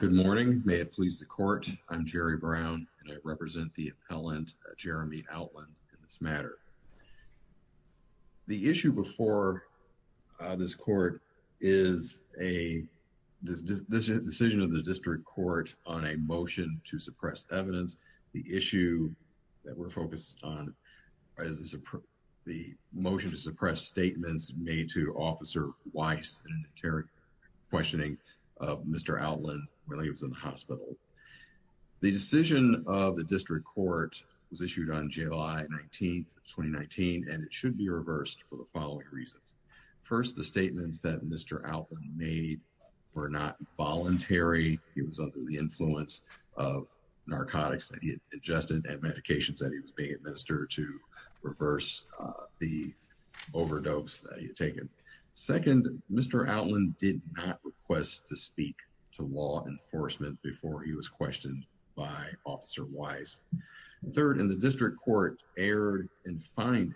Good morning. May it please the court. I'm Jerry Brown and I represent the appellant Jeremy Outland in this matter. The issue before this court is a decision of the district court on a motion to suppress evidence. The issue that we're focused on is the motion to suppress statements made to officer Weiss and interrogation questioning of Mr. Outland while he was in prison. The motion was issued on July 19th, 2019 and it should be reversed for the following reasons. First, the statements that Mr. Outland made were not voluntary. He was under the influence of narcotics that he had ingested and medications that he was being administered to reverse the overdose that he had taken. Second, Mr. Outland did not request to speak to law enforcement before he was questioned by officer Weiss. Third, in the district court erred in finding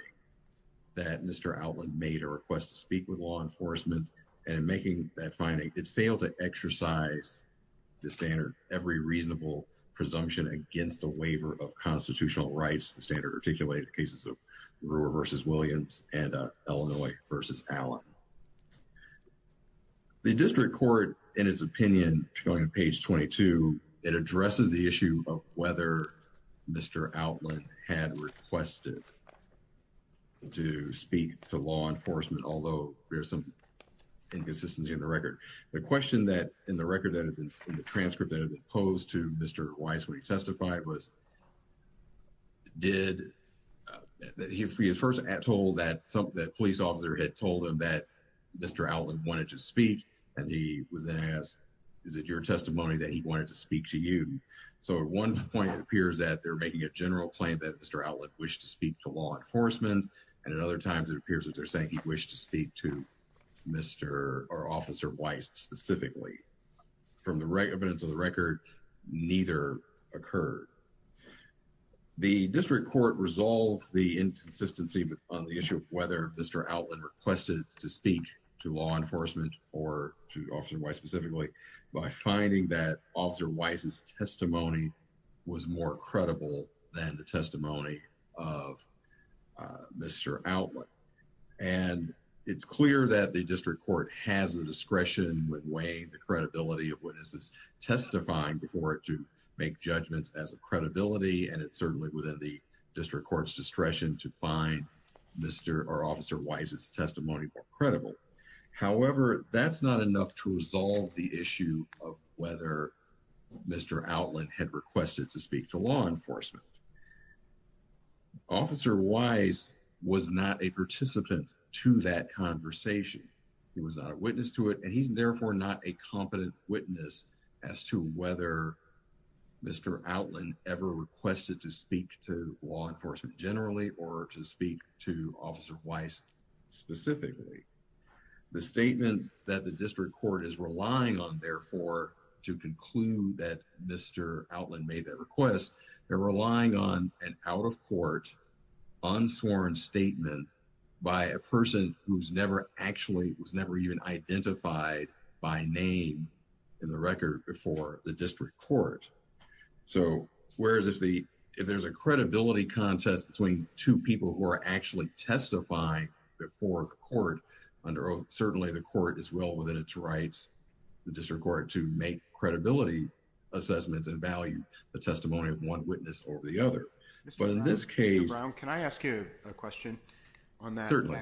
that Mr. Outland made a request to speak with law enforcement and in making that finding, it failed to exercise the standard, every reasonable presumption against the waiver of constitutional rights, the standard articulated cases of Brewer versus Williams and Illinois versus Allen. The district court, in its opinion, going to page 22, it addresses the issue of whether Mr. Outland had requested to speak to law enforcement, although there's some inconsistency in the record. The question that in the record that had been in the transcript that had been posed to Mr. Weiss when he testified was, did, that he was first told that police officer had told him that Mr. Outland wanted to speak, and he was then asked, is it your testimony that he wanted to speak to you? So at one point it appears that they're making a general claim that Mr. Outland wished to speak to law enforcement, and at other times it appears that they're saying he wished to speak to Mr. or officer Weiss specifically. From the evidence of the record, neither occurred. The district court resolved the inconsistency on the issue of whether Mr. Outland requested to speak to law enforcement or to officer Weiss specifically by finding that officer Weiss's testimony was more credible than the testimony of Mr. Outland. And it's clear that the district court has the discretion with weighing the credibility of witnesses testifying before it to make judgments as a credibility, and it's certainly within the district court's discretion to find Mr. or officer Weiss's testimony more credible. However, that's not enough to resolve the issue of whether Mr. Outland had requested to speak to law enforcement. Officer Weiss was not a participant to that conversation. He was not a witness to it, and he's therefore not a competent witness as to whether Mr. Outland ever requested to speak to law enforcement generally or to speak to officer Weiss specifically. The statement that the district court is relying on, therefore, to conclude that Mr. Outland made that request, they're relying on an out-of-court, unsworn statement by a person who's never actually was never even identified by name in the record before the district court. So, whereas if there's a credibility contest between two people who are actually testifying before the court, certainly the court is well within its rights, the district court, to make credibility assessments and value the testimony of one witness over the other. But in this case... Mr. Brown, can I ask you a question on that? Certainly.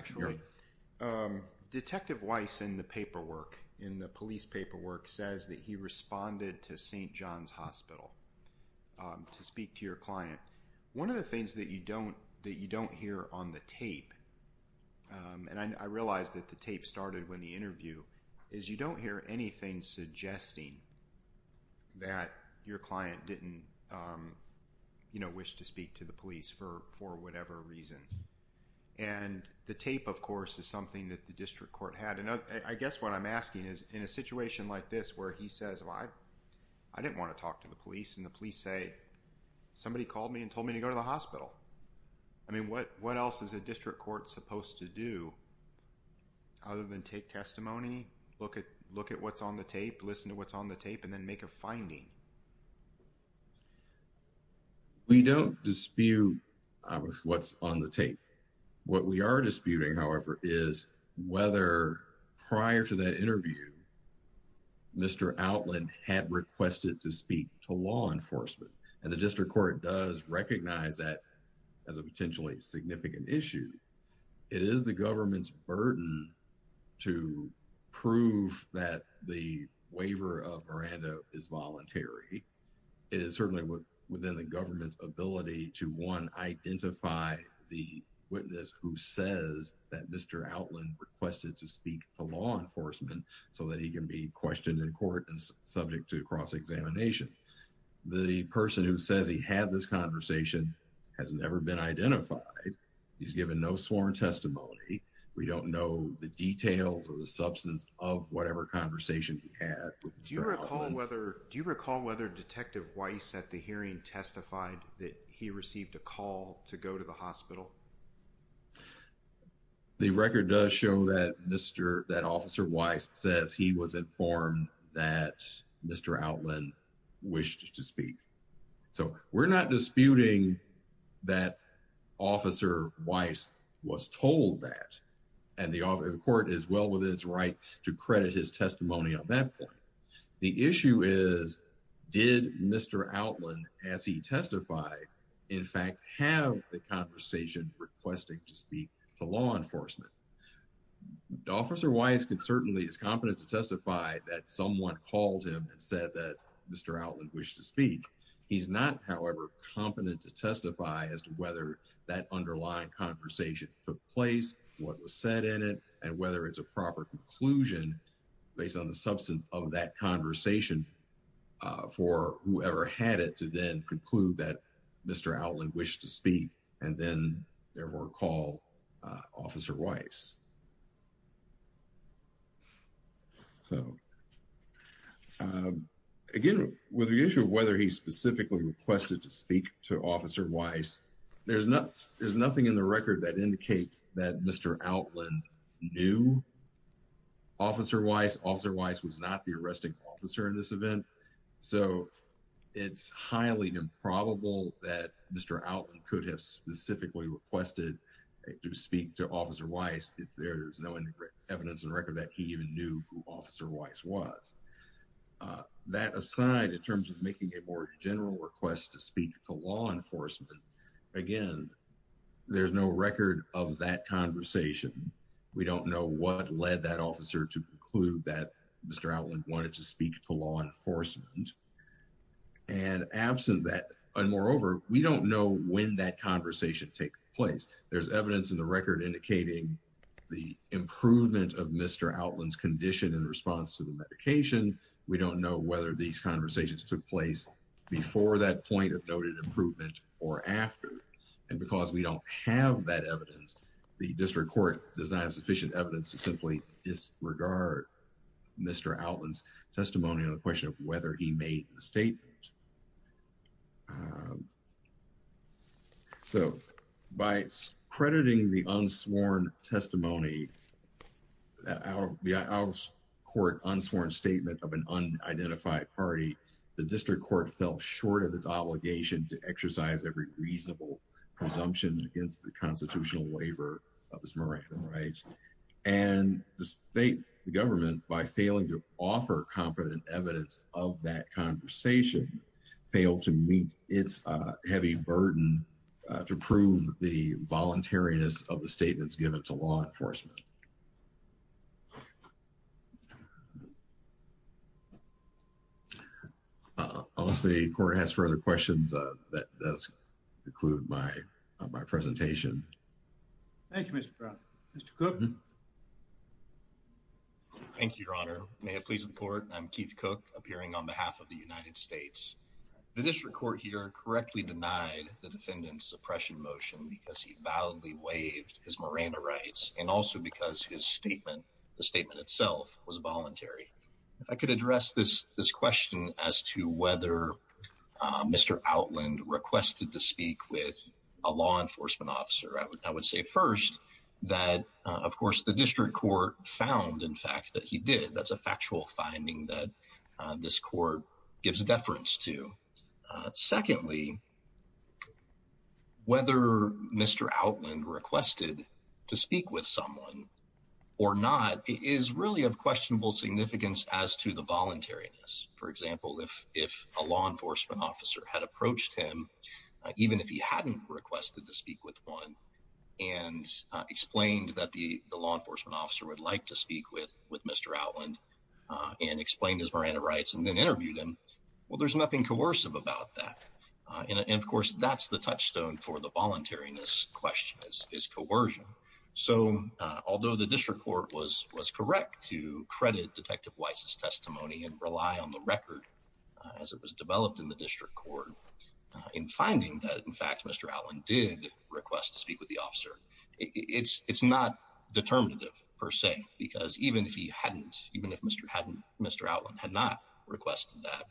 Detective Weiss in the paperwork, in the police paperwork, says that he responded to St. John's Hospital to speak to your client. One of the things that you don't hear on the tape, and I realized that the tape started when the interview, is you don't hear anything suggesting that your client didn't speak to the police for whatever reason. And the tape, of course, is something that the district court had. And I guess what I'm asking is, in a situation like this where he says, well, I didn't want to talk to the police, and the police say, somebody called me and told me to go to the hospital. I mean, what else is a district court supposed to do other than take testimony, look at what's on the tape, listen to what's on the tape, and then make a finding? We don't dispute what's on the tape. What we are disputing, however, is whether prior to that interview, Mr. Outland had requested to speak to law enforcement. And the district court does recognize that as a potentially significant issue. It is the government's burden to prove that the It is certainly within the government's ability to, one, identify the witness who says that Mr. Outland requested to speak to law enforcement so that he can be questioned in court and subject to cross-examination. The person who says he had this conversation has never been identified. He's given no sworn testimony. We don't know the details or the substance of whatever conversation he had. Do you recall whether Detective Weiss at the hearing testified that he received a call to go to the hospital? The record does show that Officer Weiss says he was informed that Mr. Outland wished to speak. So we're not disputing that Officer Weiss was told that, and the court is well within its right to credit his testimony on that point. The issue is, did Mr. Outland, as he testified, in fact have the conversation requesting to speak to law enforcement? Officer Weiss certainly is competent to testify that someone called him and said that Mr. Outland wished to speak. He's not, however, competent to testify as to whether that underlying conversation took place, what was said in it, and whether it's a proper conclusion based on the substance of that conversation for whoever had it to then conclude that Mr. Outland wished to speak and then therefore call Officer Weiss. So again, with the issue of whether he specifically requested to speak to Officer Weiss, there's nothing in the record that indicates that Mr. Outland knew Officer Weiss. Officer Weiss was not the arresting officer in this event, so it's highly improbable that Mr. Outland could have specifically requested to speak to Officer Weiss if there's no evidence in record that he even knew who Officer Weiss was. That aside, in terms of making a more to speak to law enforcement. Again, there's no record of that conversation. We don't know what led that officer to conclude that Mr. Outland wanted to speak to law enforcement. And moreover, we don't know when that conversation took place. There's evidence in the record indicating the improvement of Mr. Outland's condition in response to the medication. We don't know whether these conversations took place before that point of noted improvement or after. And because we don't have that evidence, the district court does not have sufficient evidence to simply disregard Mr. Outland's testimony on the question of whether he made the statement. So, by crediting the unsworn testimony, the out-of-court unsworn statement of an unidentified party, the district court fell short of its obligation to exercise every reasonable presumption against the constitutional waiver of his moratorium rights. And the state, the government, by failing to offer competent evidence of that conversation, failed to meet its heavy burden to prove the voluntariness of the statements given to law enforcement. Unless the court has further questions, that does conclude my presentation. Thank you, Mr. Brown. Mr. Cook? Thank you, Your Honor. May it please the court, I'm Keith Cook, appearing on behalf of the United States. The district court here correctly denied the defendant's suppression motion because he validly waived his moratorium rights and also because his statement, the statement itself, was voluntary. If I could address this question as to whether Mr. Outland requested to speak with a law enforcement officer, I would say first that, of course, the district court found, in fact, that he did. That's a factual finding that this court gives deference to. Secondly, whether Mr. Outland requested to speak with someone or not is really of questionable significance as to the voluntariness. For example, if a law enforcement officer had approached him, even if he hadn't requested to speak with one, and explained that the law enforcement officer would like to speak with Mr. Outland and explained his moratorium rights and then interviewed him, well, there's nothing coercive about that. And, of course, that's the touchstone for the voluntariness question is coercion. So, although the district court was correct to credit Detective Weiss's testimony in finding that, in fact, Mr. Outland did request to speak with the officer, it's not determinative per se because even if he hadn't, even if Mr. Outland had not requested that,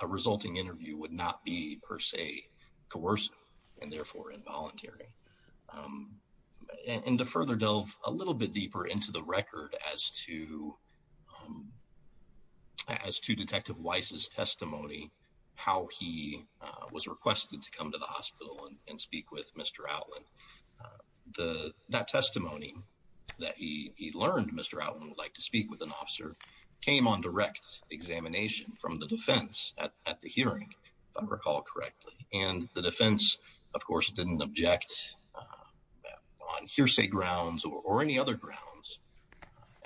a resulting interview would not be, per se, coercive and therefore involuntary. And to further delve a little bit deeper into the record as to Detective Weiss's testimony, how he was requested to come to the hospital and speak with Mr. Outland, that testimony that he learned Mr. Outland would like to speak with an officer came on direct examination from the defense at the hearing, if I recall correctly. And the defense, of course, didn't object on hearsay grounds or any other grounds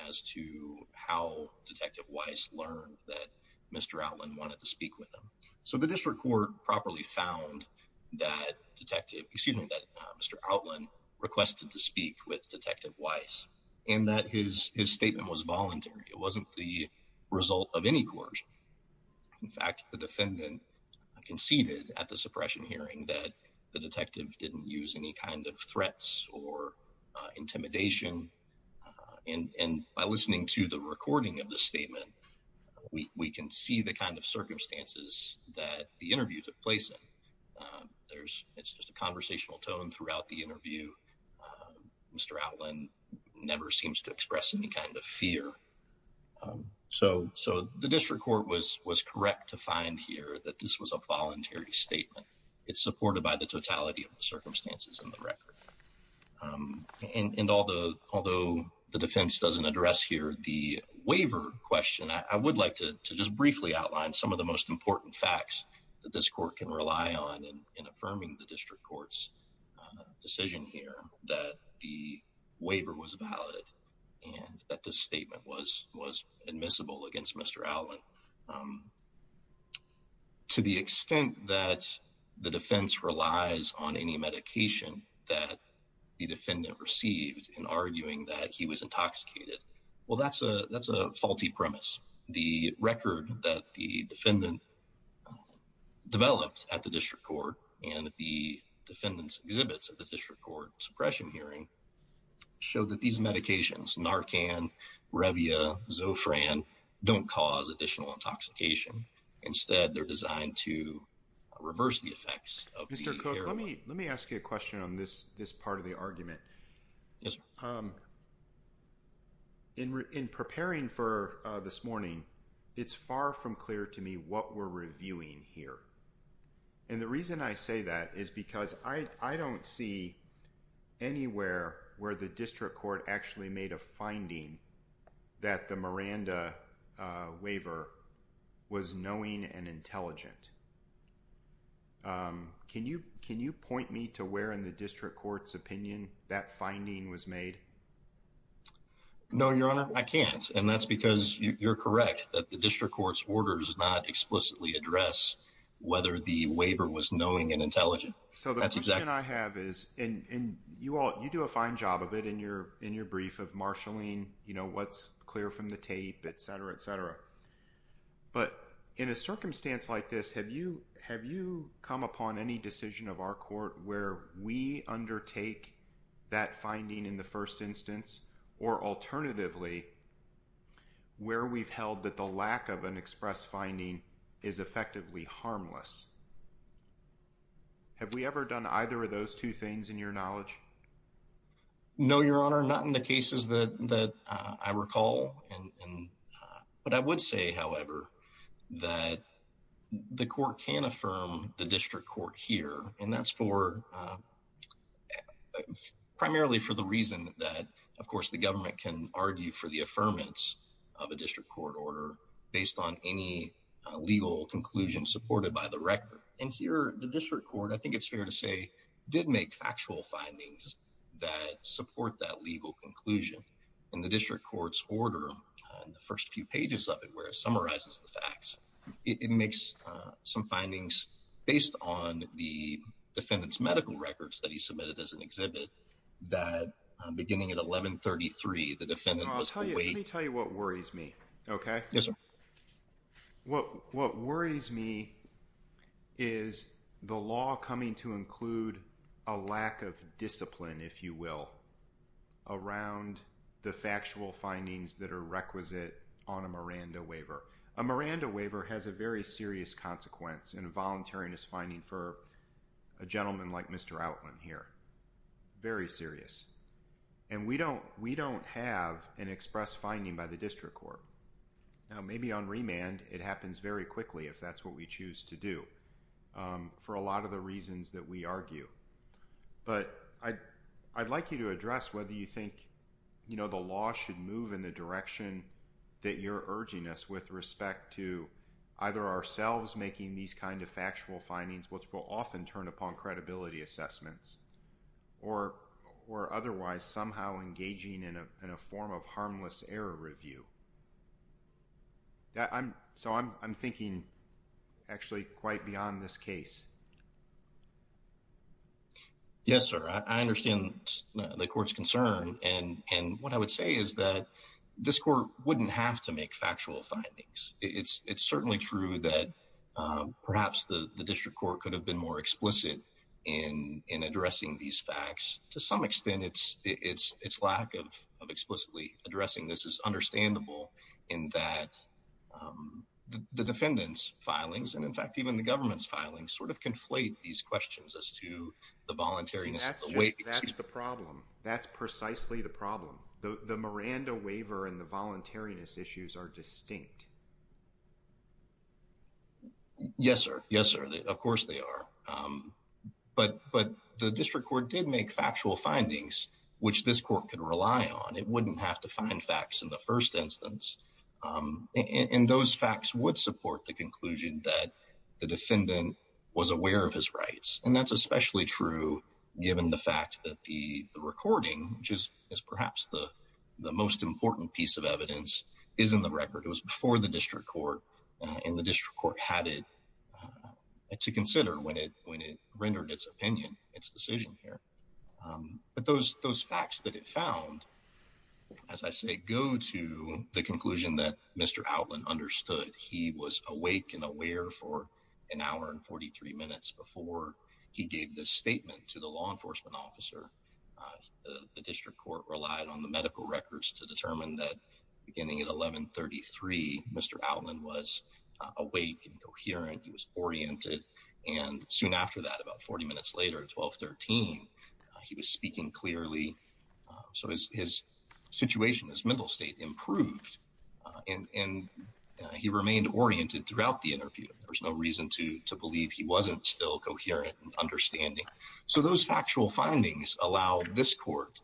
as to how Detective Weiss learned that Mr. Outland wanted to speak with him. So, the district court properly found that Detective, excuse me, that Mr. Outland requested to speak with Detective Weiss and that his statement was voluntary. It wasn't the result of any coercion. In fact, the defendant conceded at the suppression hearing that the detective didn't use any kind of threats or intimidation. And by listening to the recording of the statement, we can see the kind of circumstances that the interview took place in. There's, it's just a conversational tone throughout the interview. Mr. Outland never seems to express any kind of fear. So, the district court was correct to find here that this was a voluntary statement. It's supported by the totality of the circumstances in the record. And although the defense doesn't address here the waiver question, I would like to just briefly outline some of the most important facts that this court can rely on in affirming the district court's decision here that the waiver was valid and that this statement was admissible against Mr. Outland. To the extent that the defense relies on any medication that the defendant received in arguing that he was intoxicated, well, that's a, that's a faulty premise. The record that the defendant developed at the district court and the defendant's exhibits at the district court suppression hearing showed that these medications, Narcan, Revia, Zofran, don't cause additional intoxication. Instead, they're designed to reverse the effects. Let me ask you a question on this part of the argument. In preparing for this morning, it's far from clear to me what we're reviewing here. And the reason I say that is because I don't see anywhere where the district court actually made a finding that the Miranda waiver was knowing and intelligent. Can you, can you point me to where in the district court's opinion that finding was made? No, your honor, I can't. And that's because you're correct that the district court's orders does not explicitly address whether the waiver was knowing and intelligent. So the question I have is, and you all, you do a fine job of it in your, in your brief of marshalling, you know, what's clear from the tape, et cetera, et cetera. But in a circumstance like this, have you, have you come upon any decision of our court where we undertake that finding in first instance, or alternatively where we've held that the lack of an express finding is effectively harmless? Have we ever done either of those two things in your knowledge? No, your honor, not in the cases that I recall. But I would say, however, that the court can affirm the district court here. And that's for, primarily for the reason that, of course, the government can argue for the affirmance of a district court order based on any legal conclusion supported by the record. And here, the district court, I think it's fair to say, did make factual findings that support that legal conclusion. In the district court's order, in the first few pages of it, where it summarizes the records that he submitted as an exhibit, that beginning at 1133, the defendant was... So, I'll tell you, let me tell you what worries me, okay? Yes, sir. What, what worries me is the law coming to include a lack of discipline, if you will, around the factual findings that are requisite on a Miranda waiver. A Miranda waiver has a very serious routeline here, very serious. And we don't have an express finding by the district court. Now, maybe on remand, it happens very quickly, if that's what we choose to do, for a lot of the reasons that we argue. But I'd like you to address whether you think the law should move in the direction that you're urging us with respect to either ourselves making these kind of factual findings, which will often turn upon credibility assessments, or otherwise somehow engaging in a form of harmless error review. So, I'm thinking actually quite beyond this case. Yes, sir. I understand the court's concern. And what I would say is that this court wouldn't have to make factual findings. It's certainly true that perhaps the district court could have been more explicit in addressing these facts. To some extent, its lack of explicitly addressing this is understandable in that the defendant's filings, and in fact, even the government's filings, sort of conflate these questions as to the voluntariness of the waiver. That's the problem. That's precisely the problem. The Miranda waiver and the voluntariness issues are distinct. Yes, sir. Yes, sir. Of course they are. But the district court did make factual findings, which this court could rely on. It wouldn't have to find facts in the first instance. And those facts would support the conclusion that the defendant was aware of his rights. And that's especially true given the fact that the recording, which is perhaps the most important piece of evidence, is in the record. It was before the district court, and the district court had it to consider when it rendered its opinion, its decision here. But those facts that it found, as I say, go to the conclusion that Mr. Outland understood. He was awake and aware for an hour and 43 minutes before he gave this statement to the law enforcement officer. The district court relied on the medical records to determine that beginning at 11.33, Mr. Outland was awake and coherent. He was oriented. And soon after that, about 40 minutes later, at 12.13, he was speaking clearly. So his situation, his mental state improved, and he remained oriented throughout the interview. There was no reason to believe he wasn't still coherent and understanding. So those factual findings allowed this court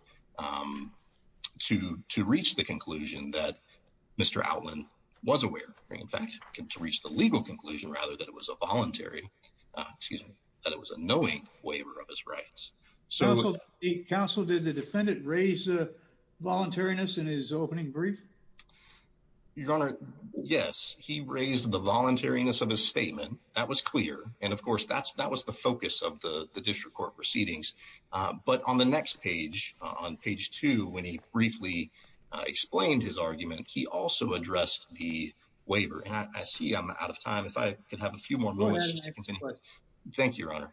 to reach the conclusion that Mr. Outland was aware, in fact, to reach the legal conclusion rather than it was a voluntary, excuse me, that it was a knowing waiver of his rights. So... Counsel, did the defendant raise the voluntariness in his opening brief? Your Honor, yes, he raised the voluntariness of his statement. That was clear. And of course, that was the focus of the district court proceedings. But on the next page, on page two, when he briefly explained his argument, he also addressed the waiver. And I see I'm out of time. If I could have a few more moments just to continue. Thank you, Your Honor.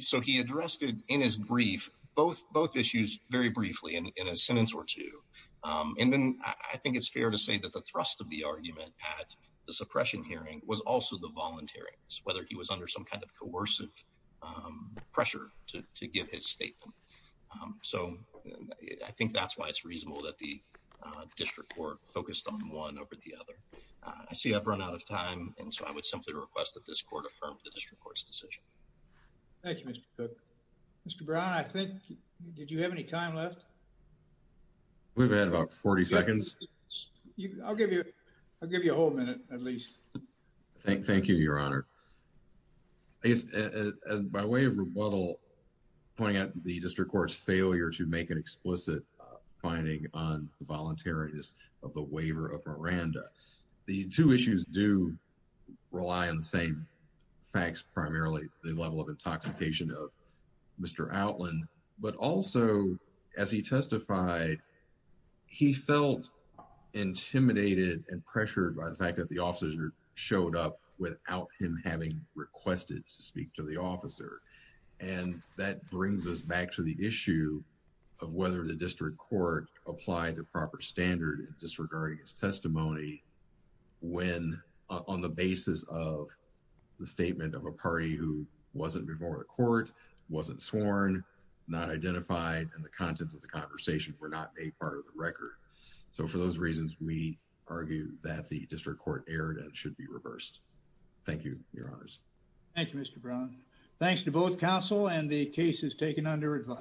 So he addressed in his brief both issues very briefly in a sentence or two. And then I think it's fair to say that the thrust of the argument at the suppression hearing was also the voluntariness, whether he was under some kind of coercive pressure to give his statement. So I think that's why it's reasonable that the district court focused on one over the other. I see I've run out of time. And so I would simply request that this court affirm the district court's decision. Thank you, Mr. Cook. Mr. Brown, I think... Did you have any time left? We've had about 40 seconds. I'll give you... I'll give you a whole minute at least. Thank you, Your Honor. By way of rebuttal, pointing out the district court's failure to make an explicit finding on the voluntariness of the waiver of Miranda, the two issues do rely on the same facts, primarily the level of intoxication of Mr. Outland. But also, as he testified, he felt intimidated and pressured by the fact that the officers showed up without him having requested to speak to the officer. And that brings us back to the issue of whether the district court applied the proper standard in disregarding his testimony when, on the basis of the statement of a party who wasn't before the court, wasn't sworn, not identified, and the contents of the conversation were not made part of the record. So for those reasons, we argue that the district court erred and should be reversed. Thank you, Your Honors. Thank you, Mr. Brown. Thanks to both counsel and the cases taken under advice.